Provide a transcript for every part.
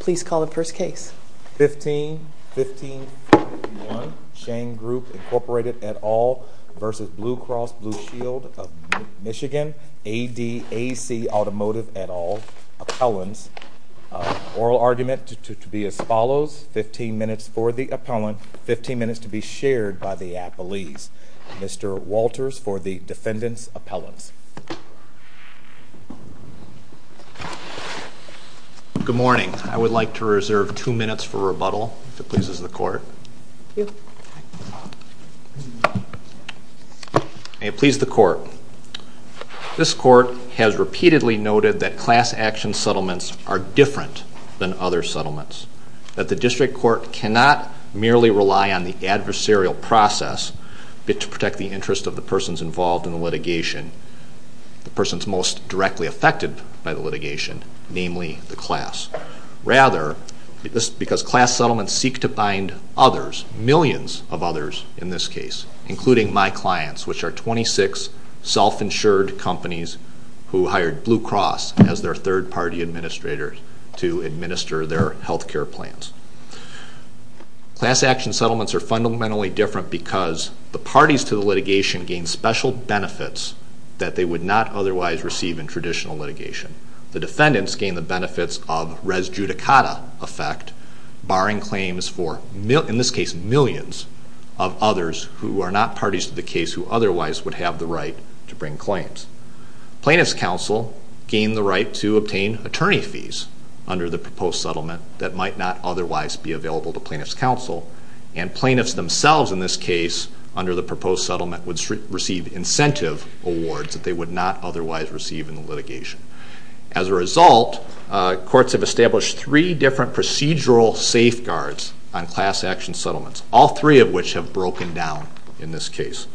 15-15-1 Shane Group Inc at all v. Blue Cross Blue Shield of Michigan A.D.A.C. Automotive at all, appellants, oral argument to be as follows, 15 minutes for the appellant, 15 minutes to be shared by the appellees. Mr. Walters for the defendant's appellants. Good morning. I would like to reserve two minutes for rebuttal if it pleases the court. May it please the court. This court has repeatedly noted that class action settlements are different than other settlements, that the district court cannot merely rely on the adversarial process to protect the interests of the persons involved in the litigation. The persons most directly affected by the litigation, namely the class. Rather, because class settlements seek to bind others, millions of others in this case, including my clients, which are 26 self-insured companies who hired Blue Cross as their third party administrator to administer their health care plans. Class action settlements are fundamentally different because the parties to the litigation gain special benefits that they would not otherwise receive in traditional litigation. The defendants gain the benefits of res judicata effect, barring claims for, in this case, millions of others who are not parties to the case who otherwise would have the right to bring claims. Plaintiffs' counsel gain the right to obtain attorney fees under the proposed settlement that might not otherwise be available to plaintiffs' counsel. And plaintiffs themselves, in this case, under the proposed settlement, would receive incentive awards that they would not otherwise receive in the litigation. As a result, courts have established three different procedural safeguards on class action settlements, all three of which have broken down in this case.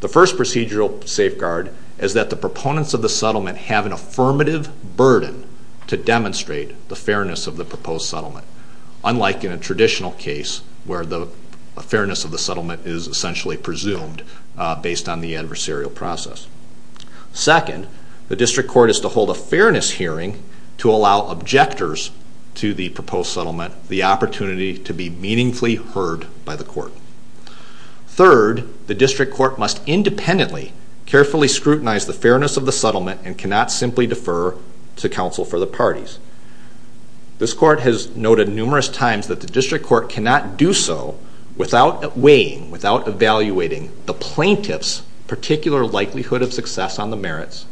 The first procedural safeguard is that the proponents of the settlement have an affirmative burden to demonstrate the fairness of the proposed settlement, unlike in a traditional case where the fairness of the settlement is essentially presumed based on the adversarial process. Second, the district court is to hold a fairness hearing to allow objectors to the proposed settlement the opportunity to be meaningfully heard by the court. Third, the district court must independently carefully scrutinize the fairness of the settlement and cannot simply defer to counsel for the parties. This court has noted numerous times that the district court cannot do so without weighing, without evaluating the plaintiff's particular likelihood of success on the merits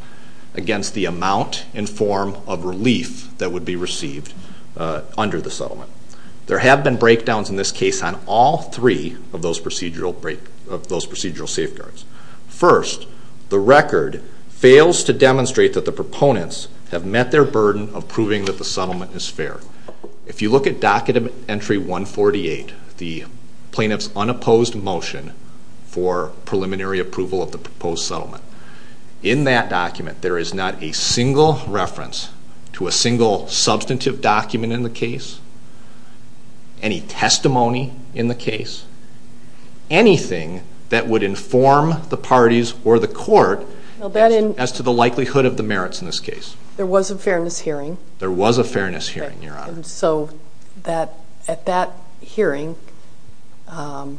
against the amount in form of relief that would be received under the settlement. There have been breakdowns in this case on all three of those procedural safeguards. First, the record fails to demonstrate that the proponents have met their burden of proving that the settlement is fair. If you look at Dockett Entry 148, the plaintiff's unopposed motion for preliminary approval of the proposed settlement, in that document there is not a single reference to a single substantive document in the case, any testimony in the case, anything that would inform the plaintiff's decision. Now, there was a fairness hearing. There was a fairness hearing, your Honor. So at that hearing, the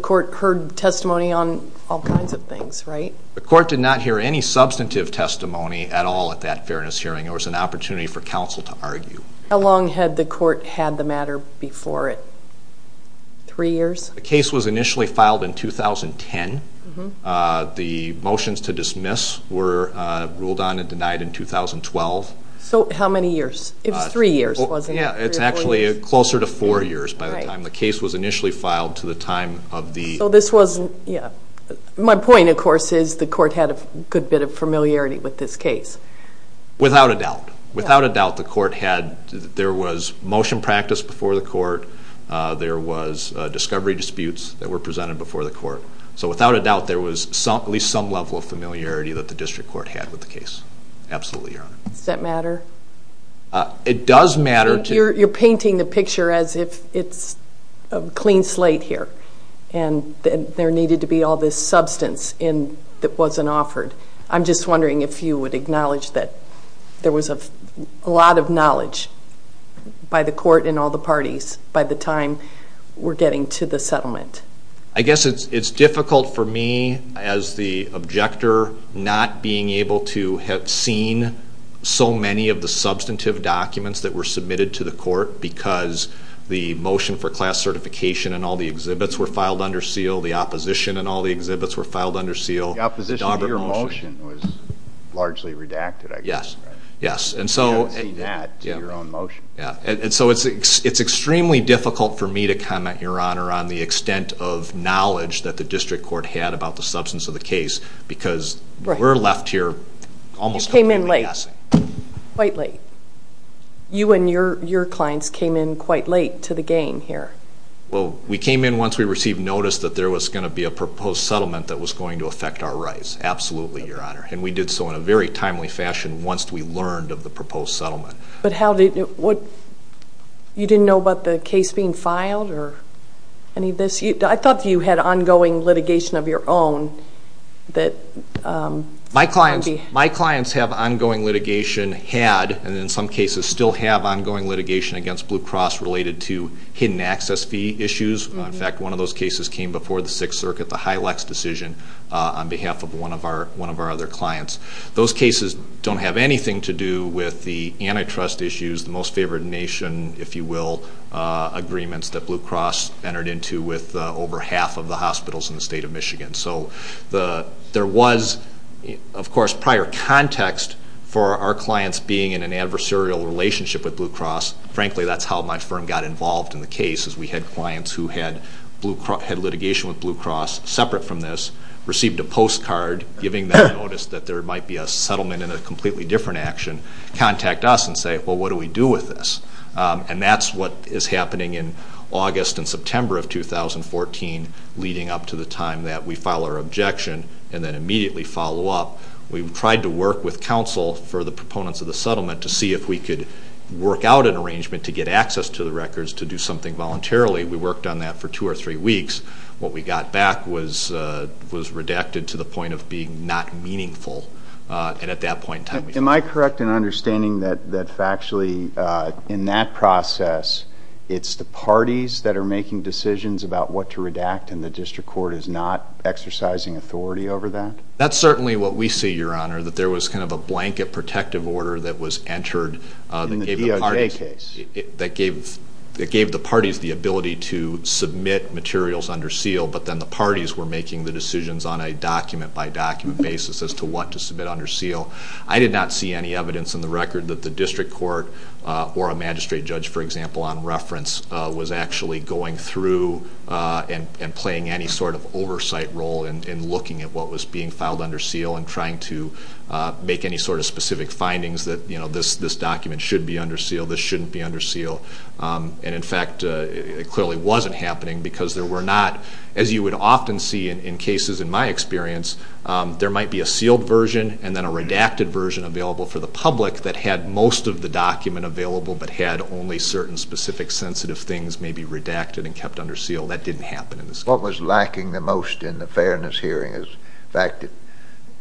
court heard testimony on all kinds of things, right? The court did not hear any substantive testimony at all at that fairness hearing. There was an opportunity for counsel to argue. How long had the court had the matter before it? Three years? The case was initially filed in 2010. The motions to dismiss were ruled on and denied in 2012. So how many years? It was three years, wasn't it? Yeah, it's actually closer to four years by the time the case was initially filed to the time of the... So this was, yeah. My point, of course, is the court had a good bit of familiarity with this case. Without a doubt. Without a doubt. There was motion practice before the court. There was discovery disputes that were presented before the court. So without a doubt, there was at least some level of familiarity that the district court had with the case. Absolutely, your Honor. Does that matter? It does matter to... You're painting the picture as if it's a clean slate here. And there needed to be all this substance that wasn't offered. I'm just wondering if you would acknowledge that there was a lot of knowledge by the court and all the parties by the time we're getting to the settlement. I guess it's difficult for me, as the objector, not being able to have seen so many of the substantive documents that were submitted to the court because the motion for class certification and all the exhibits were filed under seal. The opposition and all the exhibits were filed under seal. The opposition to your motion was largely redacted, I guess. Yes. You haven't seen that to your own motion. And so it's extremely difficult for me to comment, your Honor, on the extent of knowledge that the district court had about the substance of the case because we're left here almost completely guessing. You came in late. Quite late. You and your clients came in quite late to the game here. We came in once we received notice that there was going to be a proposed settlement that was going to affect our rights. Absolutely, your Honor. And we did so in a very timely fashion once we learned of the proposed settlement. But you didn't know about the case being filed or any of this? I thought you had ongoing litigation of your own. My clients have ongoing litigation, had, and in some cases still have ongoing litigation against Blue Cross related to hidden access fee issues. In fact, one of those cases came before the Sixth Circuit, the Hylex decision, on behalf of one of our other clients. Those cases don't have anything to do with the antitrust issues, the most favored nation, if you will, agreements that Blue Cross entered into with over half of the hospitals in the state of Michigan. So there was, of course, prior context for our clients being in an adversarial relationship with Blue Cross. Frankly, that's how my firm got involved in the case is we had clients who had litigation with Blue Cross separate from this, received a postcard giving them notice that there might be a settlement in a completely different action, contact us and say, well, what do we do with this? And that's what is happening in August and September of 2014, leading up to the time that we file our objection and then immediately follow up. We've tried to work with counsel for the proponents of the settlement to see if we could work out an arrangement to get access to the records to do something voluntarily. We worked on that for two or three weeks. What we got back was redacted to the point of being not meaningful. And at that point in time we found out. Am I correct in understanding that factually in that process it's the parties that are making decisions about what to redact and the district court is not exercising authority over that? That's certainly what we see, Your Honor, that there was kind of a blanket protective order that was entered. In the DOJ case. That gave the parties the ability to submit materials under seal, but then the parties were making the decisions on a document-by-document basis as to what to submit under seal. I did not see any evidence in the record that the district court or a magistrate judge, for example, on reference, was actually going through and playing any sort of oversight role in looking at what was being filed under seal and trying to make any sort of specific findings that, you know, this document should be under seal, this shouldn't be under seal. And, in fact, it clearly wasn't happening because there were not, as you would often see in cases in my experience, there might be a sealed version and then a redacted version available for the public that had most of the document available but had only certain specific sensitive things maybe redacted and kept under seal. That didn't happen in this case. What was lacking the most in the fairness hearing is the fact that,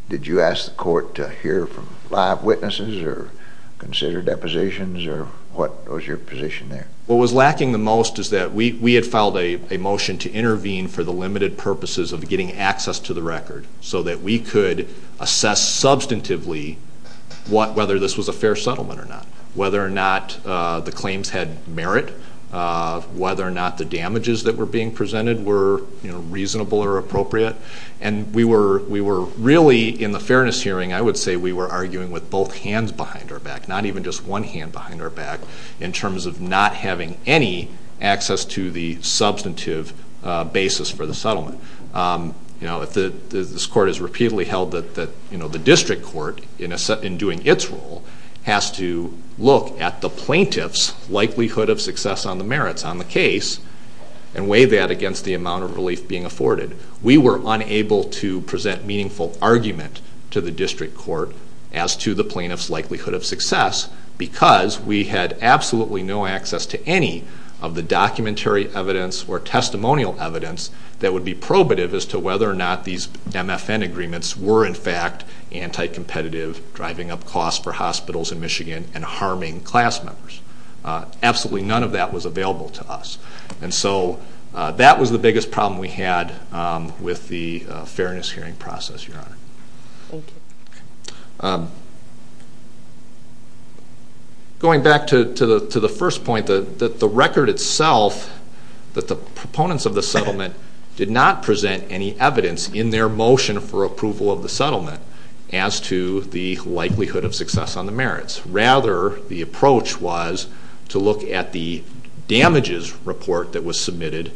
did you ask the court to hear from live witnesses or consider depositions or what was your position there? What was lacking the most is that we had filed a motion to intervene for the limited purposes of getting access to the record so that we could assess substantively whether this was a fair settlement or not, whether or not the claims had merit, whether or not the damages that were being presented were reasonable or appropriate. And we were really, in the fairness hearing, I would say we were arguing with both hands behind our back, not even just one hand behind our back, in terms of not having any access to the substantive basis for the settlement. This court has repeatedly held that the district court, in doing its role, has to look at the plaintiff's likelihood of success on the merits on the case and weigh that against the amount of relief being afforded. We were unable to present meaningful argument to the district court as to the plaintiff's likelihood of success because we had absolutely no access to any of the documentary evidence or testimonial evidence that would be probative as to whether or not these MFN agreements were in fact anti-competitive, driving up costs for hospitals in Michigan and harming class members. Absolutely none of that was available to us. And so that was the biggest problem we had with the fairness hearing process, Your Honor. Thank you. Going back to the first point, that the record itself, that the proponents of the settlement did not present any evidence in their motion for approval of the settlement as to the likelihood of success on the merits. Rather, the approach was to look at the damages report that was submitted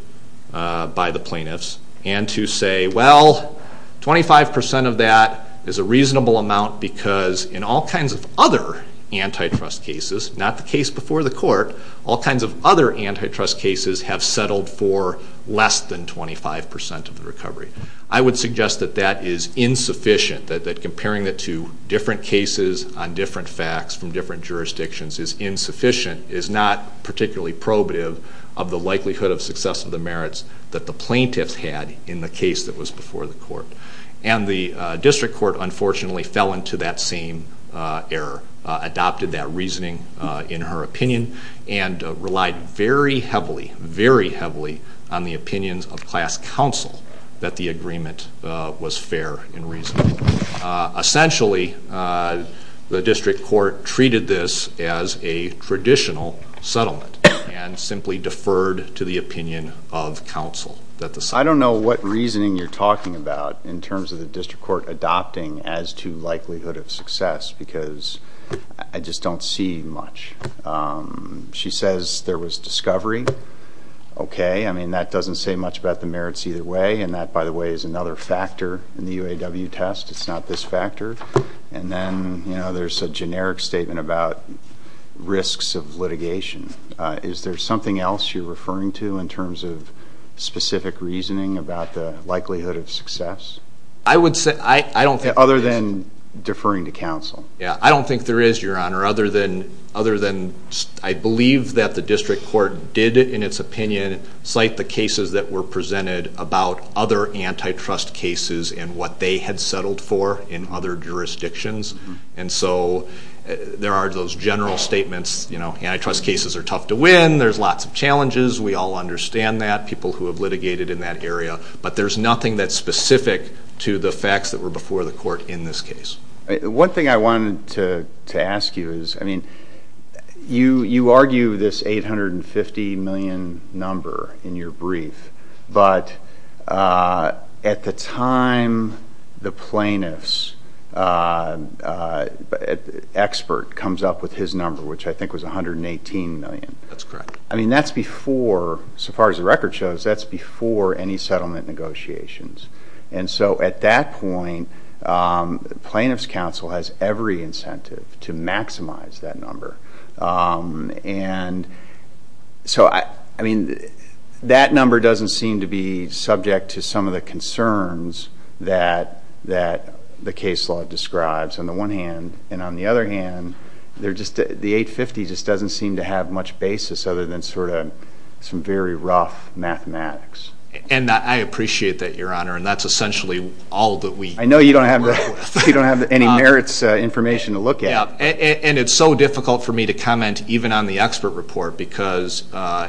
by the plaintiffs and to say, well, 25% of that is a reasonable amount because in all kinds of other antitrust cases, not the case before the court, all kinds of other antitrust cases have settled for less than 25% of the recovery. I would suggest that that is insufficient, that comparing it to different cases on different facts from different jurisdictions is insufficient, is not particularly probative of the likelihood of success of the merits that the plaintiffs had in the case that was before the court. And the district court, unfortunately, fell into that same error, adopted that reasoning in her opinion and relied very heavily, very heavily on the opinions of class counsel that the agreement was fair in reason. Essentially, the district court treated this as a traditional settlement and simply deferred to the opinion of counsel. I don't know what reasoning you're talking about in terms of the district court adopting as to likelihood of success because I just don't see much. She says there was discovery. Okay, I mean, that doesn't say much about the merits either way, and that, by the way, is another factor in the UAW test. It's not this factor. And then, you know, there's a generic statement about risks of litigation. Is there something else you're referring to in terms of specific reasoning about the likelihood of success? I would say I don't think there is. Other than deferring to counsel. Yeah, I don't think there is, Your Honor, other than I believe that the district court did, in its opinion, cite the cases that were presented about other antitrust cases and what they had settled for in other jurisdictions. And so there are those general statements. You know, antitrust cases are tough to win. There's lots of challenges. We all understand that, people who have litigated in that area. But there's nothing that's specific to the facts that were before the court in this case. One thing I wanted to ask you is, I mean, you argue this $850 million number in your brief, but at the time the plaintiff's expert comes up with his number, which I think was $118 million. That's correct. I mean, that's before, so far as the record shows, that's before any settlement negotiations. And so at that point, plaintiff's counsel has every incentive to maximize that number. And so, I mean, that number doesn't seem to be subject to some of the concerns that the case law describes on the one hand. And on the other hand, the $850 just doesn't seem to have much basis other than sort of some very rough mathematics. And I appreciate that, Your Honor, and that's essentially all that we work with. I know you don't have any merits information to look at. Yeah, and it's so difficult for me to comment even on the expert report because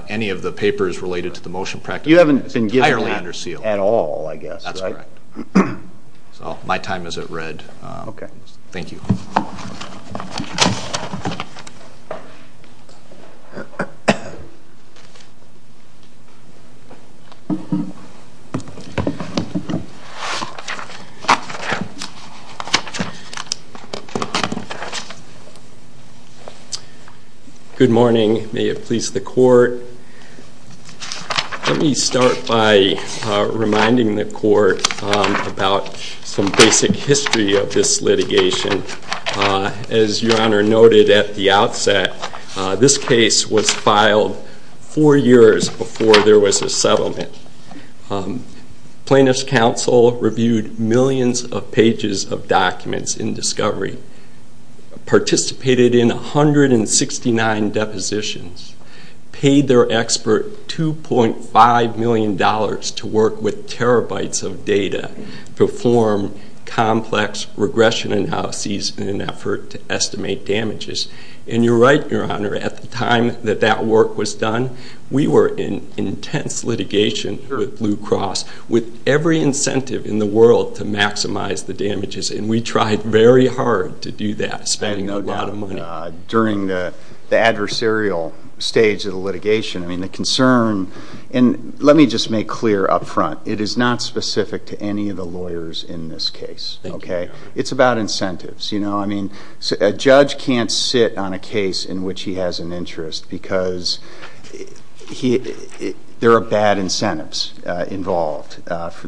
any of the papers related to the motion practice is entirely under seal. You haven't been given that at all, I guess, right? That's correct. So my time is at red. Okay. Thank you. Good morning. May it please the Court. Let me start by reminding the Court about some basic history of this litigation. As Your Honor noted at the outset, this case was filed four years before there was a settlement. Plaintiff's counsel reviewed millions of pages of documents in discovery. Participated in 169 depositions. Paid their expert $2.5 million to work with terabytes of data to form complex regression analyses in an effort to estimate damages. And you're right, Your Honor, at the time that that work was done, we were in intense litigation here at Blue Cross with every incentive in the world to maximize the damages. And we tried very hard to do that, spending a lot of money. During the adversarial stage of the litigation, I mean, the concern and let me just make clear up front, it is not specific to any of the lawyers in this case. Okay. It's about incentives, you know. I mean, a judge can't sit on a case in which he has an interest because there are bad incentives involved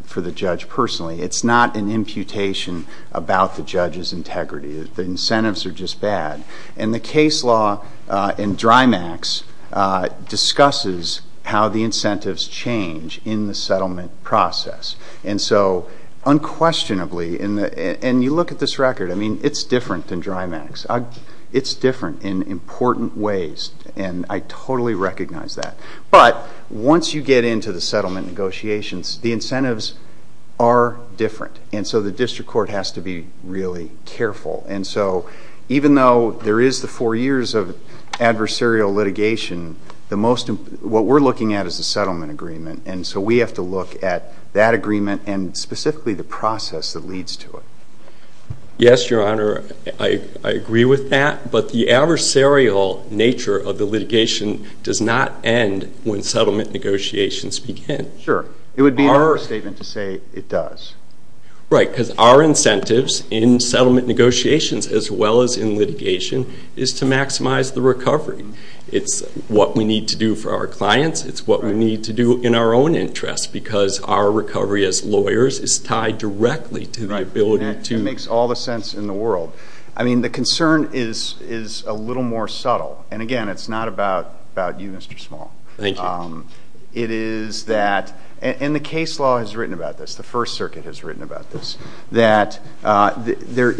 for the judge personally. It's not an imputation about the judge's integrity. The incentives are just bad. And the case law in DRIMACS discusses how the incentives change in the settlement process. And so unquestionably, and you look at this record, I mean, it's different than DRIMACS. It's different in important ways, and I totally recognize that. But once you get into the settlement negotiations, the incentives are different. And so the district court has to be really careful. And so even though there is the four years of adversarial litigation, what we're looking at is the settlement agreement. And so we have to look at that agreement and specifically the process that leads to it. Yes, Your Honor, I agree with that. But the adversarial nature of the litigation does not end when settlement negotiations begin. Sure. It would be an understatement to say it does. Right, because our incentives in settlement negotiations as well as in litigation is to maximize the recovery. It's what we need to do for our clients. It's what we need to do in our own interests because our recovery as lawyers is tied directly to the ability to Right, and that makes all the sense in the world. I mean, the concern is a little more subtle. And again, it's not about you, Mr. Small. Thank you. It is that, and the case law has written about this, the First Circuit has written about this, that there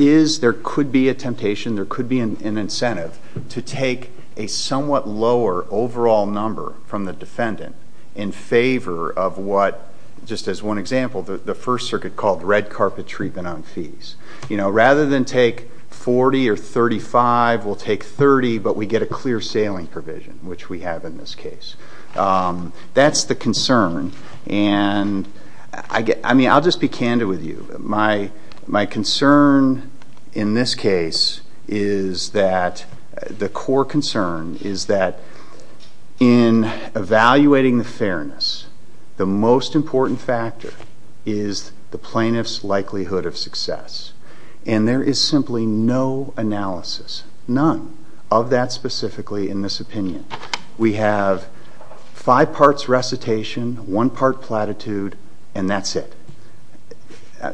could be a temptation, there could be an incentive to take a somewhat lower overall number from the defendant in favor of what, just as one example, the First Circuit called red carpet treatment on fees. You know, rather than take 40 or 35, we'll take 30, but we get a clear sailing provision, which we have in this case. That's the concern. And I mean, I'll just be candid with you. My concern in this case is that the core concern is that in evaluating the fairness, the most important factor is the plaintiff's likelihood of success. And there is simply no analysis, none, of that specifically in this opinion. We have five parts recitation, one part platitude, and that's it,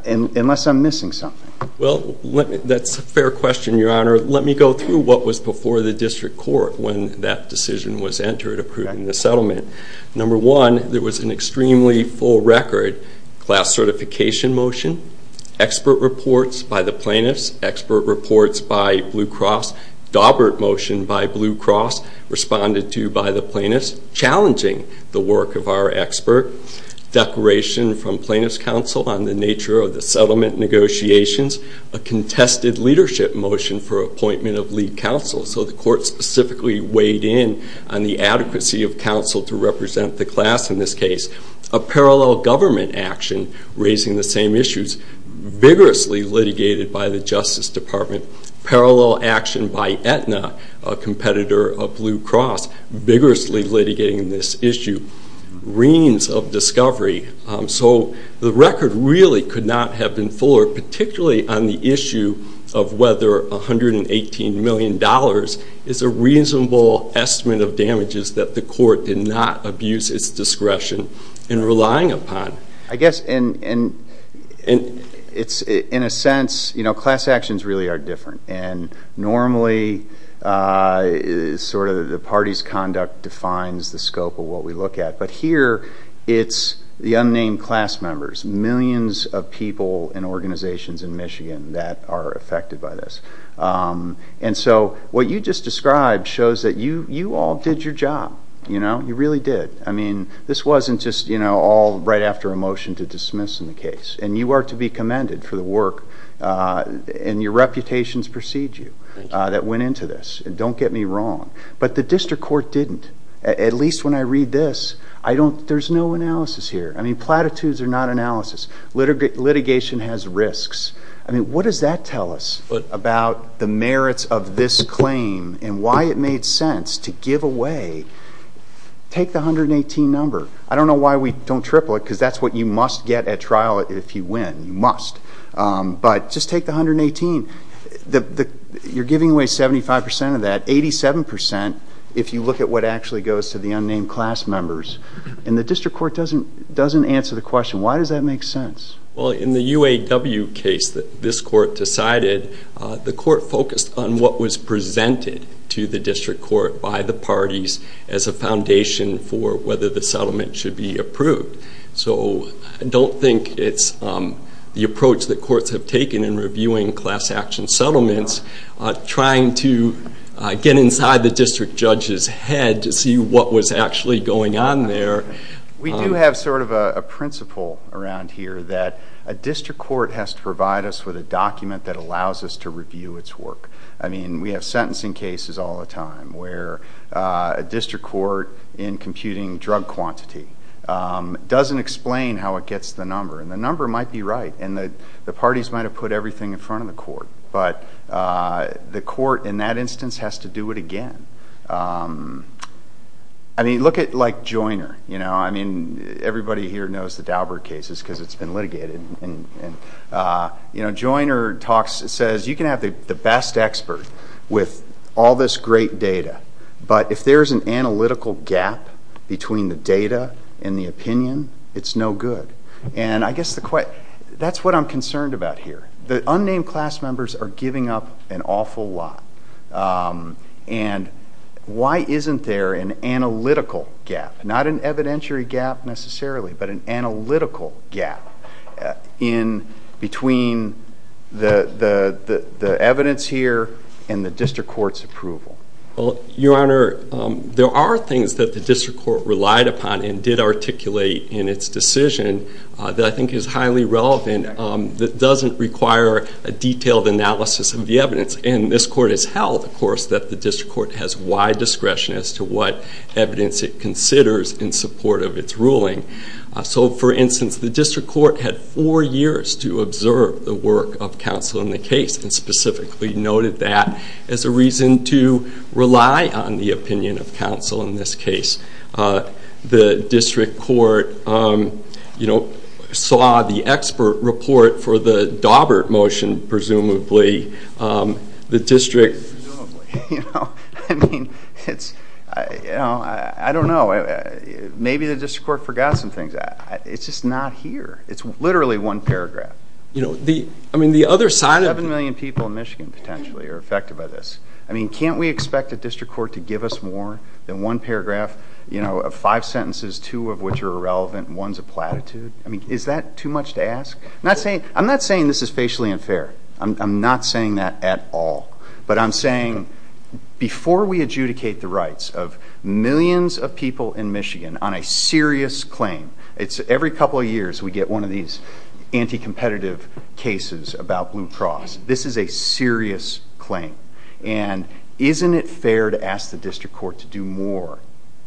unless I'm missing something. Well, that's a fair question, Your Honor. Let me go through what was before the district court when that decision was entered, approving the settlement. Number one, there was an extremely full record. Class certification motion, expert reports by the plaintiffs, expert reports by Blue Cross, Dawbert motion by Blue Cross, responded to by the plaintiffs, challenging the work of our expert, declaration from plaintiff's counsel on the nature of the settlement negotiations, a contested leadership motion for appointment of lead counsel. So the court specifically weighed in on the adequacy of counsel to represent the class in this case. A parallel government action raising the same issues, vigorously litigated by the Justice Department. Parallel action by Aetna, a competitor of Blue Cross, vigorously litigating this issue. Reams of discovery. So the record really could not have been fuller, particularly on the issue of whether $118 million is a reasonable estimate of damages that the court did not abuse its discretion in relying upon. I guess in a sense, you know, class actions really are different, and normally sort of the party's conduct defines the scope of what we look at. But here it's the unnamed class members, millions of people and organizations in Michigan that are affected by this. And so what you just described shows that you all did your job. You know, you really did. I mean, this wasn't just, you know, all right after a motion to dismiss in the case. And you are to be commended for the work and your reputations precede you that went into this. Don't get me wrong. But the district court didn't. At least when I read this, there's no analysis here. I mean, platitudes are not analysis. Litigation has risks. I mean, what does that tell us about the merits of this claim and why it made sense to give away? Take the 118 number. I don't know why we don't triple it because that's what you must get at trial if you win. You must. But just take the 118. You're giving away 75% of that. 87% if you look at what actually goes to the unnamed class members. And the district court doesn't answer the question. Why does that make sense? Well, in the UAW case that this court decided, the court focused on what was presented to the district court by the parties as a foundation for whether the settlement should be approved. So I don't think it's the approach that courts have taken in reviewing class action settlements, trying to get inside the district judge's head to see what was actually going on there. We do have sort of a principle around here that a district court has to provide us with a document that allows us to review its work. I mean, we have sentencing cases all the time where a district court, in computing drug quantity, doesn't explain how it gets the number. And the number might be right, and the parties might have put everything in front of the court. But the court, in that instance, has to do it again. I mean, look at like Joiner. I mean, everybody here knows the Daubert cases because it's been litigated. Joiner says you can have the best expert with all this great data, but if there's an analytical gap between the data and the opinion, it's no good. And I guess that's what I'm concerned about here. The unnamed class members are giving up an awful lot. And why isn't there an analytical gap, not an evidentiary gap necessarily, but an analytical gap between the evidence here and the district court's approval? Well, Your Honor, there are things that the district court relied upon and did articulate in its decision that I think is highly relevant that doesn't require a detailed analysis of the evidence. And this court has held, of course, that the district court has wide discretion as to what evidence it considers in support of its ruling. So, for instance, the district court had four years to observe the work of counsel in the case and specifically noted that as a reason to rely on the opinion of counsel in this case. The district court saw the expert report for the Daubert motion, presumably. Presumably. I mean, I don't know. Maybe the district court forgot some things. It's just not here. It's literally one paragraph. I mean, the other side of it... Seven million people in Michigan potentially are affected by this. I mean, can't we expect a district court to give us more than one paragraph? You know, five sentences, two of which are irrelevant, and one's a platitude. I mean, is that too much to ask? I'm not saying this is facially unfair. I'm not saying that at all. But I'm saying before we adjudicate the rights of millions of people in Michigan on a serious claim, it's every couple of years we get one of these anti-competitive cases about Blue Cross. This is a serious claim. And isn't it fair to ask the district court to do more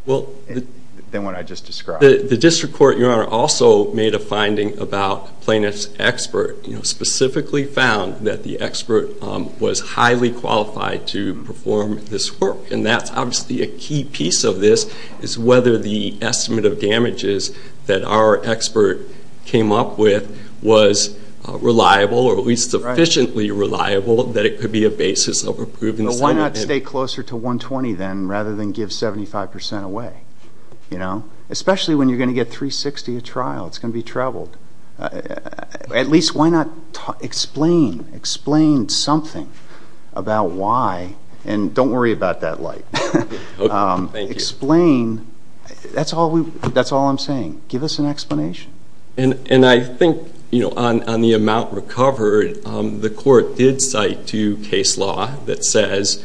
than what I just described? The district court, Your Honor, also made a finding about plaintiff's expert, specifically found that the expert was highly qualified to perform this work. And that's obviously a key piece of this is whether the estimate of damages that our expert came up with was reliable or at least sufficiently reliable that it could be a basis of a proven statement. Why not stay closer to 120, then, rather than give 75 percent away? You know? Especially when you're going to get 360 at trial. It's going to be troubled. At least why not explain? Explain something about why. And don't worry about that light. Explain. That's all I'm saying. Give us an explanation. And I think, you know, on the amount recovered, the court did cite to case law that says,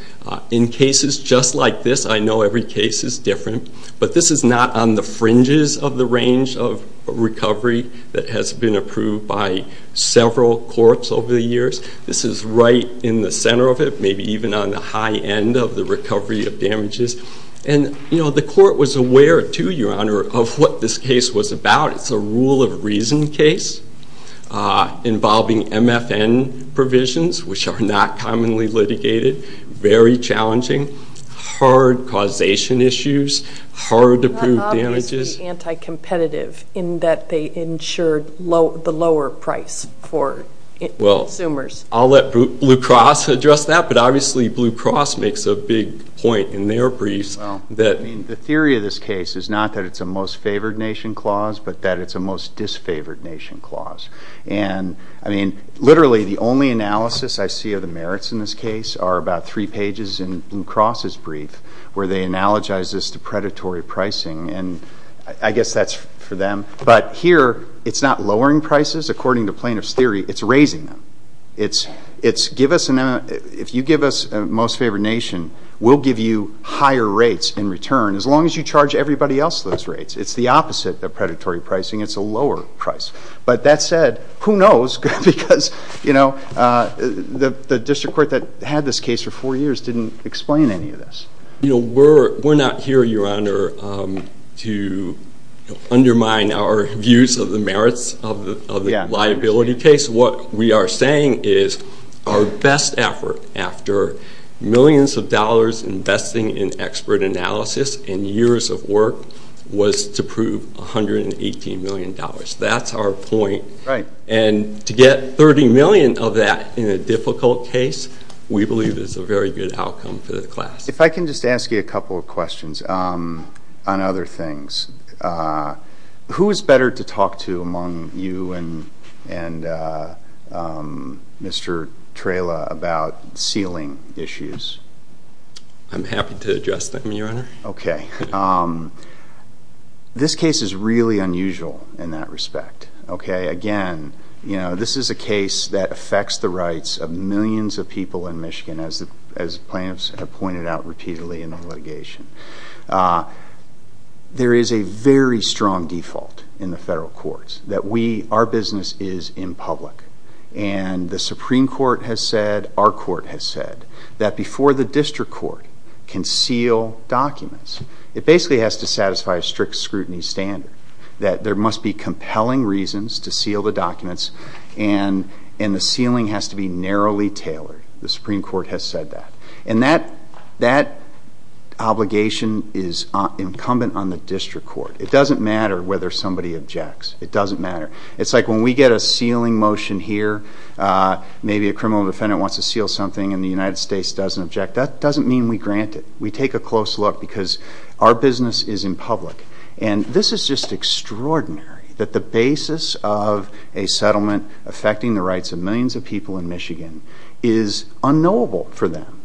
in cases just like this, I know every case is different, but this is not on the fringes of the range of recovery that has been approved by several courts over the years. This is right in the center of it, maybe even on the high end of the recovery of damages. And, you know, the court was aware, too, Your Honor, of what this case was about. It's a rule of reason case involving MFN provisions, which are not commonly litigated. Very challenging. Hard causation issues. Hard to prove damages. Not obviously anti-competitive in that they ensured the lower price for consumers. Well, I'll let Blue Cross address that, but obviously Blue Cross makes a big point in their briefs that the theory of this case is not that it's a most favored nation clause, but that it's a most disfavored nation clause. And, I mean, literally the only analysis I see of the merits in this case are about three pages in Blue Cross's brief where they analogize this to predatory pricing, and I guess that's for them. But here it's not lowering prices. According to plaintiff's theory, it's raising them. If you give us a most favored nation, we'll give you higher rates in return, as long as you charge everybody else those rates. It's the opposite of predatory pricing. It's a lower price. But that said, who knows? Because, you know, the district court that had this case for four years didn't explain any of this. You know, we're not here, Your Honor, to undermine our views of the merits of the liability case. What we are saying is our best effort after millions of dollars investing in expert analysis and years of work was to prove $118 million. That's our point. And to get $30 million of that in a difficult case, we believe is a very good outcome for the class. If I can just ask you a couple of questions on other things. Who is better to talk to among you and Mr. Trela about ceiling issues? I'm happy to address them, Your Honor. Okay. This case is really unusual in that respect. Okay, again, you know, this is a case that affects the rights of millions of people in Michigan, as plaintiffs have pointed out repeatedly in the litigation. There is a very strong default in the federal courts that we, our business, is in public. And the Supreme Court has said, our court has said, that before the district court can seal documents, it basically has to satisfy a strict scrutiny standard, that there must be compelling reasons to seal the documents and the ceiling has to be narrowly tailored. The Supreme Court has said that. And that obligation is incumbent on the district court. It doesn't matter whether somebody objects. It doesn't matter. It's like when we get a sealing motion here, maybe a criminal defendant wants to seal something and the United States doesn't object, that doesn't mean we grant it. We take a close look because our business is in public. And this is just extraordinary that the basis of a settlement affecting the rights of millions of people in Michigan is unknowable for them.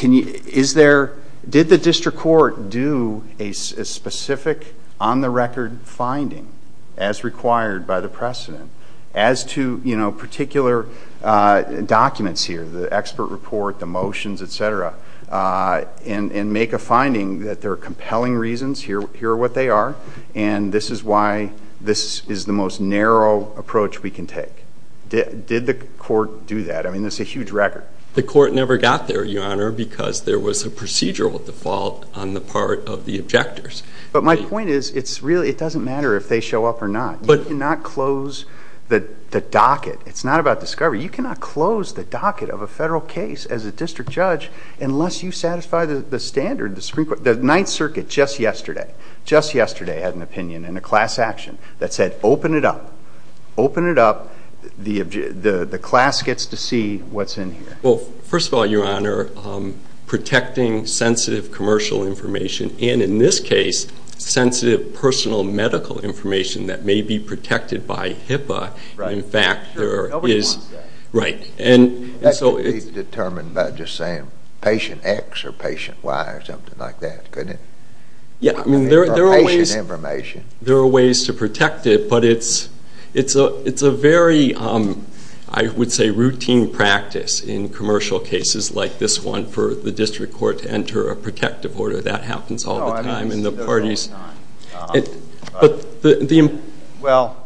Did the district court do a specific, on-the-record finding, as required by the precedent, as to particular documents here, the expert report, the motions, et cetera, and make a finding that there are compelling reasons, here are what they are, and this is why this is the most narrow approach we can take. Did the court do that? I mean, it's a huge record. The court never got there, Your Honor, because there was a procedural default on the part of the objectors. But my point is, it doesn't matter if they show up or not. You cannot close the docket. It's not about discovery. You cannot close the docket of a federal case as a district judge unless you satisfy the standard. The Ninth Circuit just yesterday had an opinion in a class action that said, open it up, open it up, the class gets to see what's in here. Well, first of all, Your Honor, protecting sensitive commercial information, and in this case, sensitive personal medical information that may be protected by HIPAA. Right. Nobody wants that. Right. That could be determined by just saying patient X or patient Y or something like that, couldn't it? Yeah, I mean, there are ways to protect it, but it's a very, I would say, routine practice in commercial cases like this one for the district court to enter a protective order. That happens all the time in the parties. Well,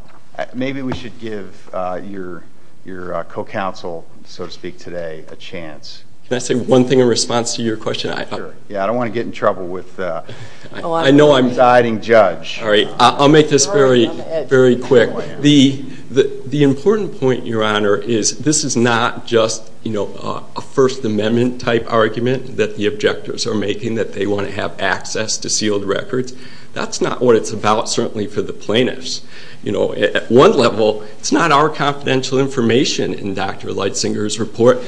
maybe we should give your co-counsel, so to speak, today a chance. Can I say one thing in response to your question? Sure. Yeah, I don't want to get in trouble with the presiding judge. All right. I'll make this very quick. The important point, Your Honor, is this is not just a First Amendment type argument that the objectors are making, that they want to have access to sealed records. That's not what it's about, certainly, for the plaintiffs. At one level, it's not our confidential information in Dr. Leitzinger's report.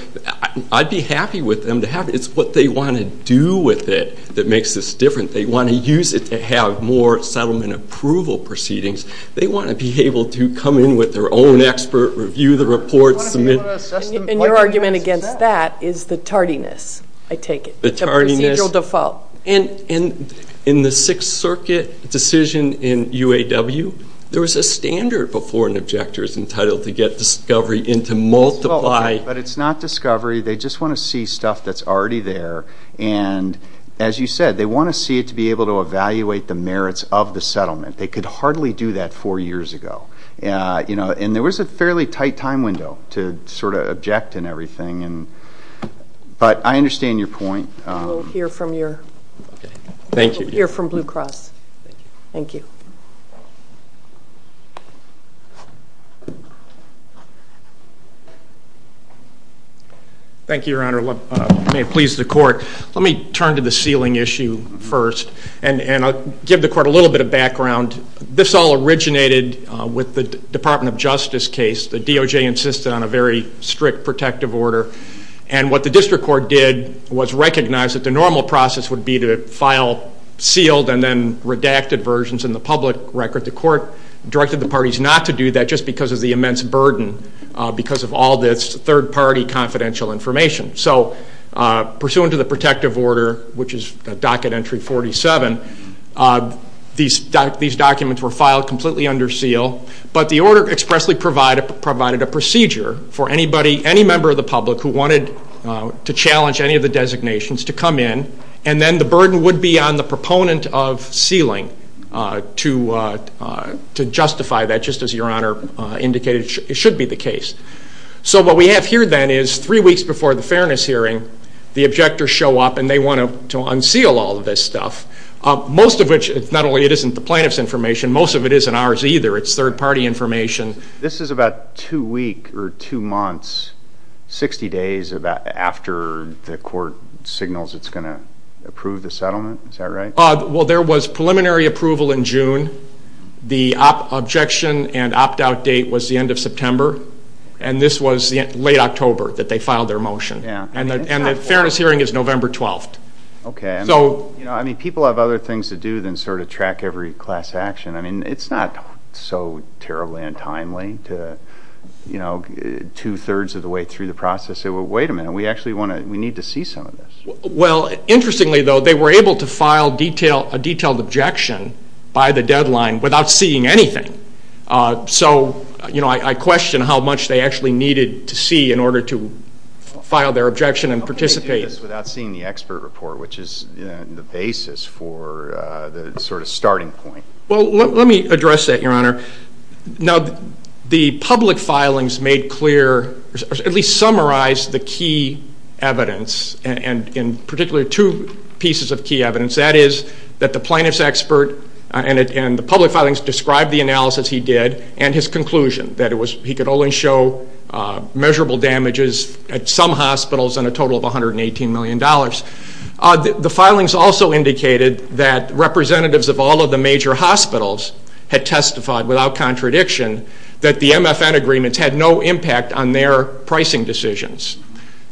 I'd be happy with them to have it. It's what they want to do with it that makes this different. They want to use it to have more settlement approval proceedings. They want to be able to come in with their own expert, review the report, submit it. And your argument against that is the tardiness, I take it. The procedural default. In the Sixth Circuit decision in UAW, there was a standard before an objector is entitled to get discovery and to multiply. But it's not discovery. They just want to see stuff that's already there. And, as you said, they want to see it to be able to evaluate the merits of the settlement. They could hardly do that four years ago. And there was a fairly tight time window to sort of object and everything. But I understand your point. We'll hear from Blue Cross. Thank you. Thank you, Your Honor. May it please the Court. Let me turn to the sealing issue first, and I'll give the Court a little bit of background. This all originated with the Department of Justice case. The DOJ insisted on a very strict protective order. And what the District Court did was recognize that the normal process would be to file sealed and then redacted versions in the public record. The Court directed the parties not to do that just because of the immense burden because of all this third-party confidential information. So, pursuant to the protective order, which is Docket Entry 47, these documents were filed completely under seal. But the order expressly provided a procedure for any member of the public who wanted to challenge any of the designations to come in. And then the burden would be on the proponent of sealing to justify that, just as Your Honor indicated it should be the case. So what we have here, then, is three weeks before the fairness hearing, the objectors show up and they want to unseal all of this stuff. Most of which, not only isn't the plaintiff's information, most of it isn't ours either. It's third-party information. This is about two weeks or two months, 60 days after the Court signals it's going to approve the settlement? Is that right? Well, there was preliminary approval in June. The objection and opt-out date was the end of September. And this was late October that they filed their motion. And the fairness hearing is November 12th. Okay. I mean, people have other things to do than sort of track every class action. I mean, it's not so terribly untimely to, you know, two-thirds of the way through the process say, well, wait a minute. We actually need to see some of this. Well, interestingly, though, they were able to file a detailed objection by the deadline without seeing anything. So, you know, I question how much they actually needed to see in order to file their objection and participate. How can they do this without seeing the expert report, which is the basis for the sort of starting point? Well, let me address that, Your Honor. Now, the public filings made clear or at least summarized the key evidence, and in particular two pieces of key evidence. That is that the plaintiff's expert and the public filings described the analysis he did and his conclusion, that he could only show measurable damages at some hospitals and a total of $118 million. The filings also indicated that representatives of all of the major hospitals had testified without contradiction that the MFN agreements had no impact on their pricing decisions.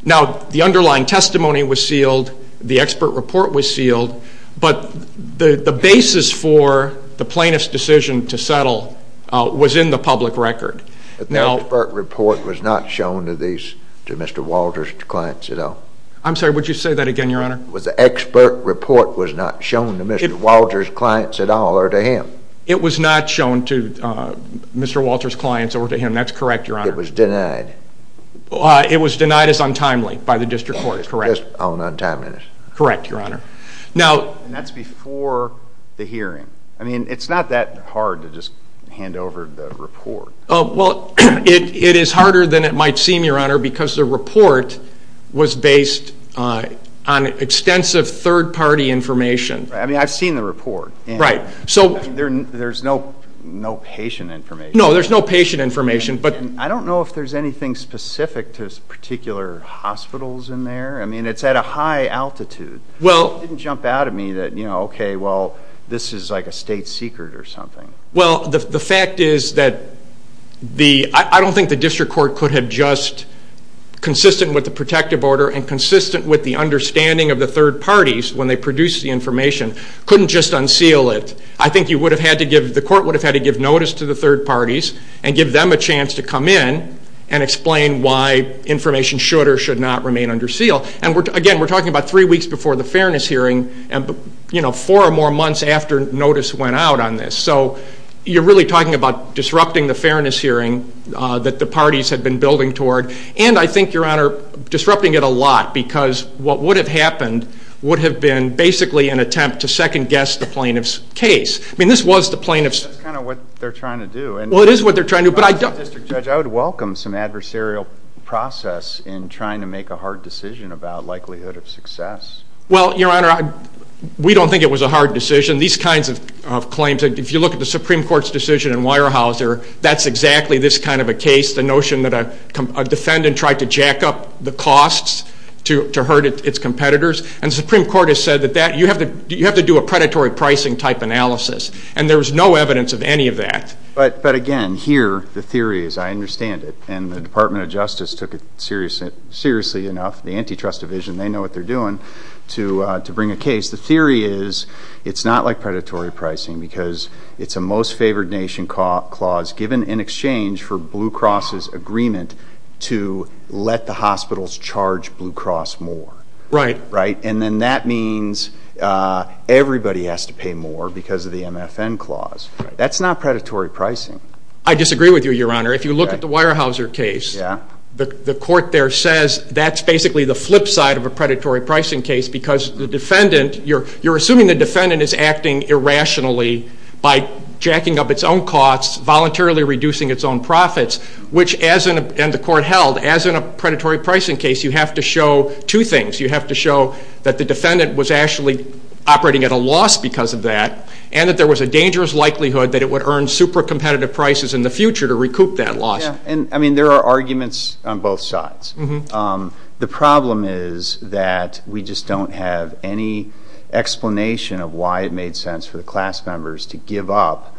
Now, the underlying testimony was sealed, the expert report was sealed, but the basis for the plaintiff's decision to settle was in the public record. But the expert report was not shown to Mr. Walter's clients at all? I'm sorry, would you say that again, Your Honor? The expert report was not shown to Mr. Walter's clients at all or to him? It was not shown to Mr. Walter's clients or to him, that's correct, Your Honor. It was denied? It was denied as untimely by the district court, correct. Just on untimeliness? Correct, Your Honor. And that's before the hearing? I mean, it's not that hard to just hand over the report. Well, it is harder than it might seem, Your Honor, because the report was based on extensive third-party information. I mean, I've seen the report. Right. There's no patient information. No, there's no patient information. I don't know if there's anything specific to particular hospitals in there. I mean, it's at a high altitude. It didn't jump out at me that, you know, okay, well, this is like a state secret or something. Well, the fact is that I don't think the district court could have just, consistent with the protective order and consistent with the understanding of the third parties when they produced the information, couldn't just unseal it. I think the court would have had to give notice to the third parties and give them a chance to come in and explain why information should or should not remain under seal. And, again, we're talking about three weeks before the fairness hearing and, you know, four or more months after notice went out on this. So you're really talking about disrupting the fairness hearing that the parties had been building toward. And I think, Your Honor, disrupting it a lot because what would have happened would have been basically an attempt to second-guess the plaintiff's case. I mean, this was the plaintiff's. That's kind of what they're trying to do. Well, it is what they're trying to do. As a district judge, I would welcome some adversarial process in trying to make a hard decision about likelihood of success. Well, Your Honor, we don't think it was a hard decision. These kinds of claims, if you look at the Supreme Court's decision in Weyerhaeuser, that's exactly this kind of a case, the notion that a defendant tried to jack up the costs to hurt its competitors. And the Supreme Court has said that you have to do a predatory pricing-type analysis. And there was no evidence of any of that. But, again, here the theory is I understand it, and the Department of Justice took it seriously enough. The Antitrust Division, they know what they're doing to bring a case. The theory is it's not like predatory pricing because it's a Most Favored Nation Clause given in exchange for Blue Cross's agreement to let the hospitals charge Blue Cross more. Right. And then that means everybody has to pay more because of the MFN Clause. That's not predatory pricing. I disagree with you, Your Honor. If you look at the Weyerhaeuser case, the court there says that's basically the flip side of a predatory pricing case because the defendant, you're assuming the defendant is acting irrationally by jacking up its own costs, voluntarily reducing its own profits, which, as the court held, as in a predatory pricing case, you have to show two things. You have to show that the defendant was actually operating at a loss because of that and that there was a dangerous likelihood that it would earn super competitive prices in the future to recoup that loss. I mean, there are arguments on both sides. The problem is that we just don't have any explanation of why it made sense for the class members to give up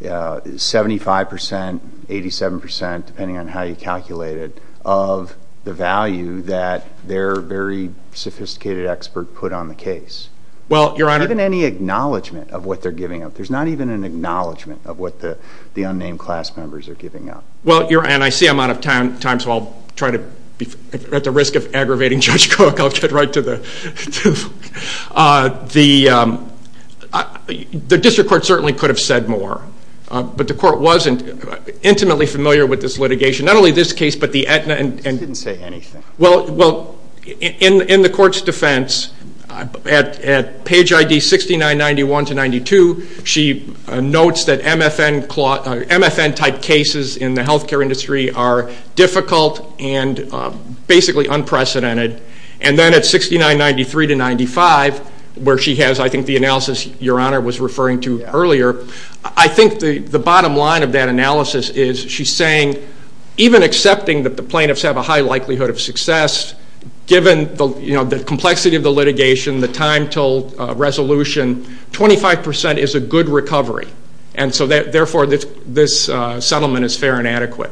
75 percent, 87 percent, depending on how you calculate it, of the value that their very sophisticated expert put on the case. Well, Your Honor. There's not even any acknowledgment of what they're giving up. There's not even an acknowledgment of what the unnamed class members are giving up. Well, Your Honor, and I see I'm out of time, so I'll try to be at the risk of aggravating Judge Cook. I'll get right to the point. The district court certainly could have said more, but the court wasn't intimately familiar with this litigation, not only this case but the Aetna. It didn't say anything. Well, in the court's defense, at page ID 6991 to 6992, she notes that MFN-type cases in the health care industry are difficult and basically unprecedented. And then at 6993 to 6995, where she has, I think, the analysis Your Honor was referring to earlier, I think the bottom line of that analysis is she's saying, even accepting that the plaintiffs have a high likelihood of success, given the complexity of the litigation, the time until resolution, 25 percent is a good recovery. And so, therefore, this settlement is fair and adequate.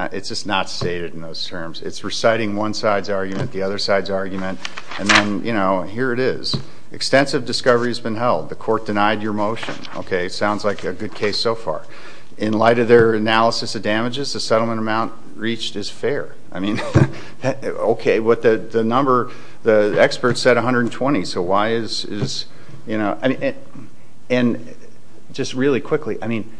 It's just not stated in those terms. It's reciting one side's argument, the other side's argument, and then, you know, here it is. Extensive discovery has been held. The court denied your motion. Okay, sounds like a good case so far. In light of their analysis of damages, the settlement amount reached is fair. I mean, okay, but the number, the expert said 120. So why is, you know, and just really quickly, I mean,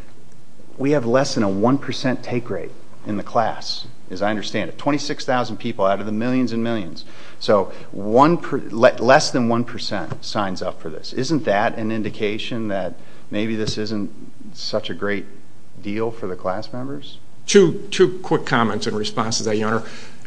we have less than a 1 percent take rate in the class, as I understand it, 26,000 people out of the millions and millions. So less than 1 percent signs up for this. Isn't that an indication that maybe this isn't such a great deal for the class members? Two quick comments in response to that, Your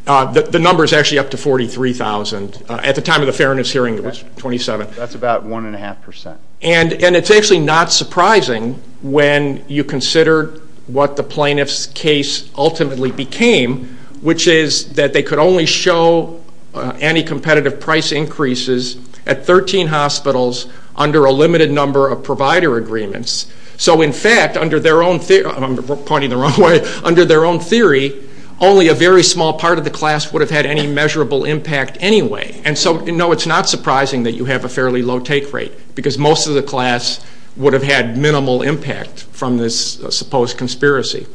Honor. The number is actually up to 43,000. At the time of the fairness hearing, it was 27. That's about 1.5 percent. And it's actually not surprising when you consider what the plaintiff's case ultimately became, which is that they could only show anticompetitive price increases at 13 hospitals under a limited number of provider agreements. So, in fact, under their own theory, I'm pointing the wrong way, under their own theory, only a very small part of the class would have had any measurable impact anyway. And so, no, it's not surprising that you have a fairly low take rate because most of the class would have had minimal impact from this supposed conspiracy.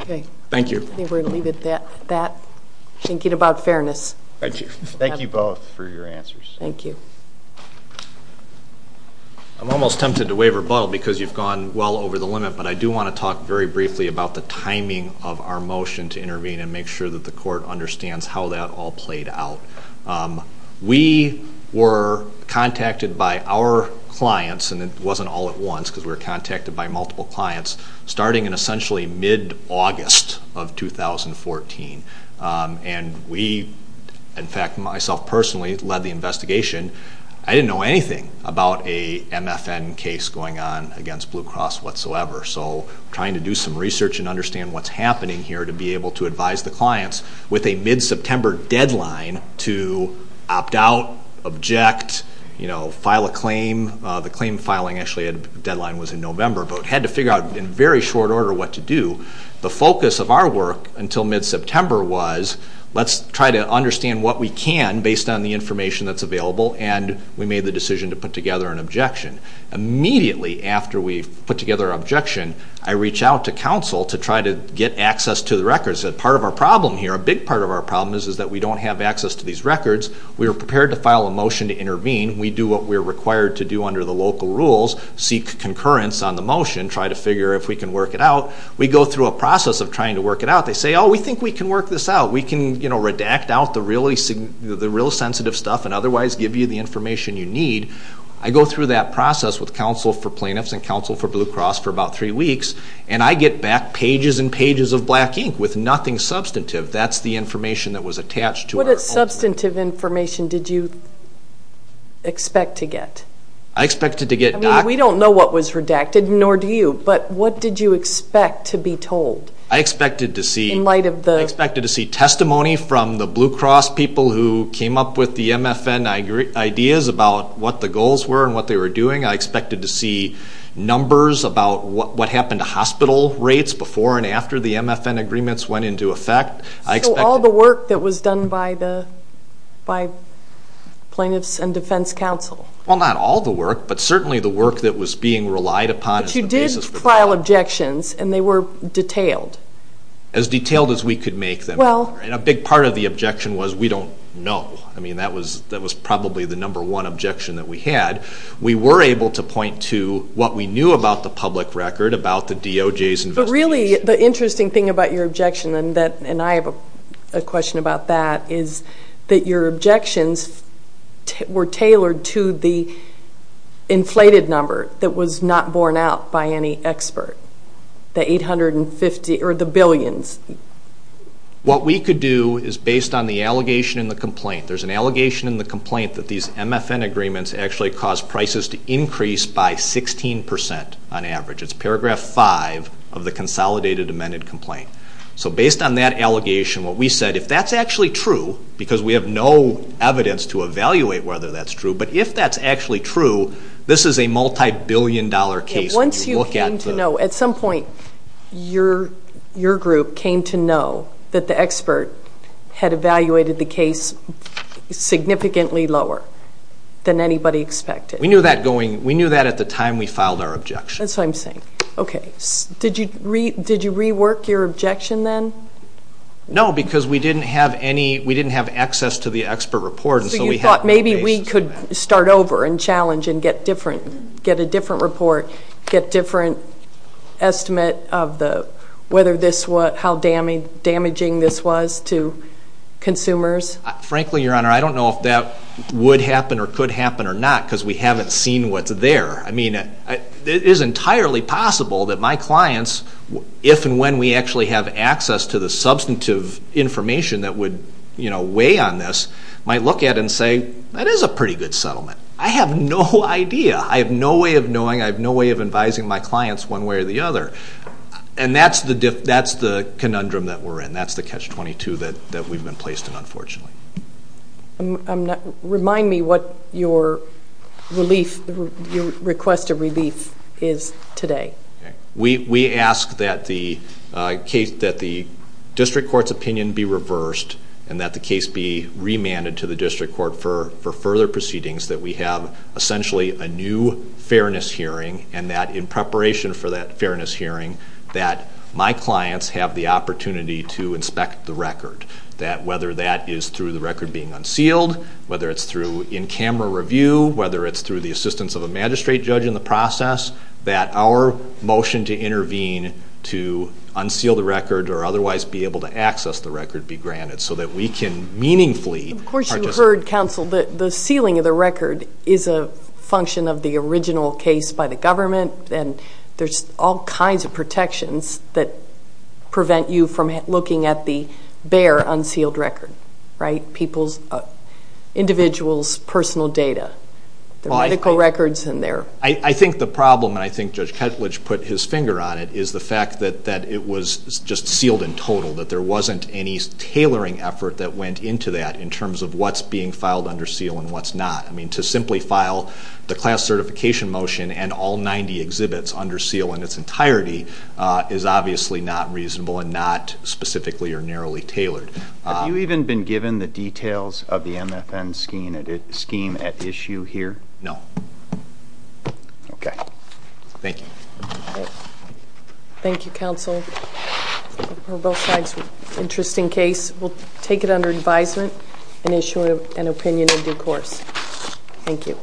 Okay. Thank you. I think we're going to leave it at that, thinking about fairness. Thank you. Thank you both for your answers. Thank you. I'm almost tempted to wave rebuttal because you've gone well over the limit, but I do want to talk very briefly about the timing of our motion to intervene and make sure that the court understands how that all played out. We were contacted by our clients, and it wasn't all at once because we were contacted by multiple clients, starting in essentially mid-August of 2014. And we, in fact, myself personally, led the investigation. I didn't know anything about a MFN case going on against Blue Cross whatsoever, so trying to do some research and understand what's happening here to be able to advise the clients with a mid-September deadline to opt out, object, file a claim. The claim filing deadline was in November, but we had to figure out in very short order what to do. The focus of our work until mid-September was let's try to understand what we can based on the information that's available, and we made the decision to put together an objection. Immediately after we put together an objection, I reached out to counsel to try to get access to the records. Part of our problem here, a big part of our problem, is that we don't have access to these records. We were prepared to file a motion to intervene. We do what we're required to do under the local rules, seek concurrence on the motion, try to figure if we can work it out. We go through a process of trying to work it out. They say, oh, we think we can work this out. We can redact out the real sensitive stuff and otherwise give you the information you need. I go through that process with counsel for plaintiffs and counsel for Blue Cross for about 3 weeks, and I get back pages and pages of black ink with nothing substantive. That's the information that was attached to our old records. What substantive information did you expect to get? I expected to get documents. I mean, we don't know what was redacted, nor do you, but what did you expect to be told? I expected to see testimony from the Blue Cross people who came up with the MFN ideas about what the goals were and what they were doing. I expected to see numbers about what happened to hospital rates before and after the MFN agreements went into effect. So all the work that was done by the plaintiffs and defense counsel. Well, not all the work, but certainly the work that was being relied upon. But you did file objections, and they were detailed. As detailed as we could make them. And a big part of the objection was we don't know. I mean, that was probably the number one objection that we had. We were able to point to what we knew about the public record, about the DOJ's investigation. But really, the interesting thing about your objection, and I have a question about that, is that your objections were tailored to the inflated number that was not borne out by any expert. The 850, or the billions. What we could do is based on the allegation in the complaint. There's an allegation in the complaint that these MFN agreements actually caused prices to increase by 16 percent on average. It's paragraph 5 of the consolidated amended complaint. So based on that allegation, what we said, if that's actually true, because we have no evidence to evaluate whether that's true, but if that's actually true, this is a multi-billion dollar case. Once you came to know, at some point, your group came to know that the expert had evaluated the case significantly lower than anybody expected. We knew that at the time we filed our objection. That's what I'm saying. Okay. Did you rework your objection then? No, because we didn't have access to the expert report. So you thought maybe we could start over and challenge and get a different report, get a different estimate of how damaging this was to consumers? Frankly, Your Honor, I don't know if that would happen or could happen or not, because we haven't seen what's there. I mean, it is entirely possible that my clients, if and when we actually have access to the substantive information that would weigh on this, might look at it and say, that is a pretty good settlement. I have no idea. I have no way of knowing. I have no way of advising my clients one way or the other. And that's the conundrum that we're in. That's the catch-22 that we've been placed in, unfortunately. Remind me what your request of relief is today. We ask that the district court's opinion be reversed and that the case be remanded to the district court for further proceedings, that we have essentially a new fairness hearing, and that in preparation for that fairness hearing, that my clients have the opportunity to inspect the record, that whether that is through the record being unsealed, whether it's through in-camera review, whether it's through the assistance of a magistrate judge in the process, that our motion to intervene to unseal the record or otherwise be able to access the record be granted so that we can meaningfully participate. Of course you heard, counsel, that the sealing of the record is a function of the original case by the government, and there's all kinds of protections that prevent you from looking at the bare unsealed record, right? Individual's personal data, their medical records and their... I think the problem, and I think Judge Ketledge put his finger on it, is the fact that it was just sealed in total, that there wasn't any tailoring effort that went into that in terms of what's being filed under seal and what's not. I mean, to simply file the class certification motion and all 90 exhibits under seal in its entirety is obviously not reasonable and not specifically or narrowly tailored. Have you even been given the details of the MFN scheme at issue here? No. Okay. Thank you. Thank you, counsel, for both sides. Interesting case. We'll take it under advisement and issue an opinion in due course. Thank you.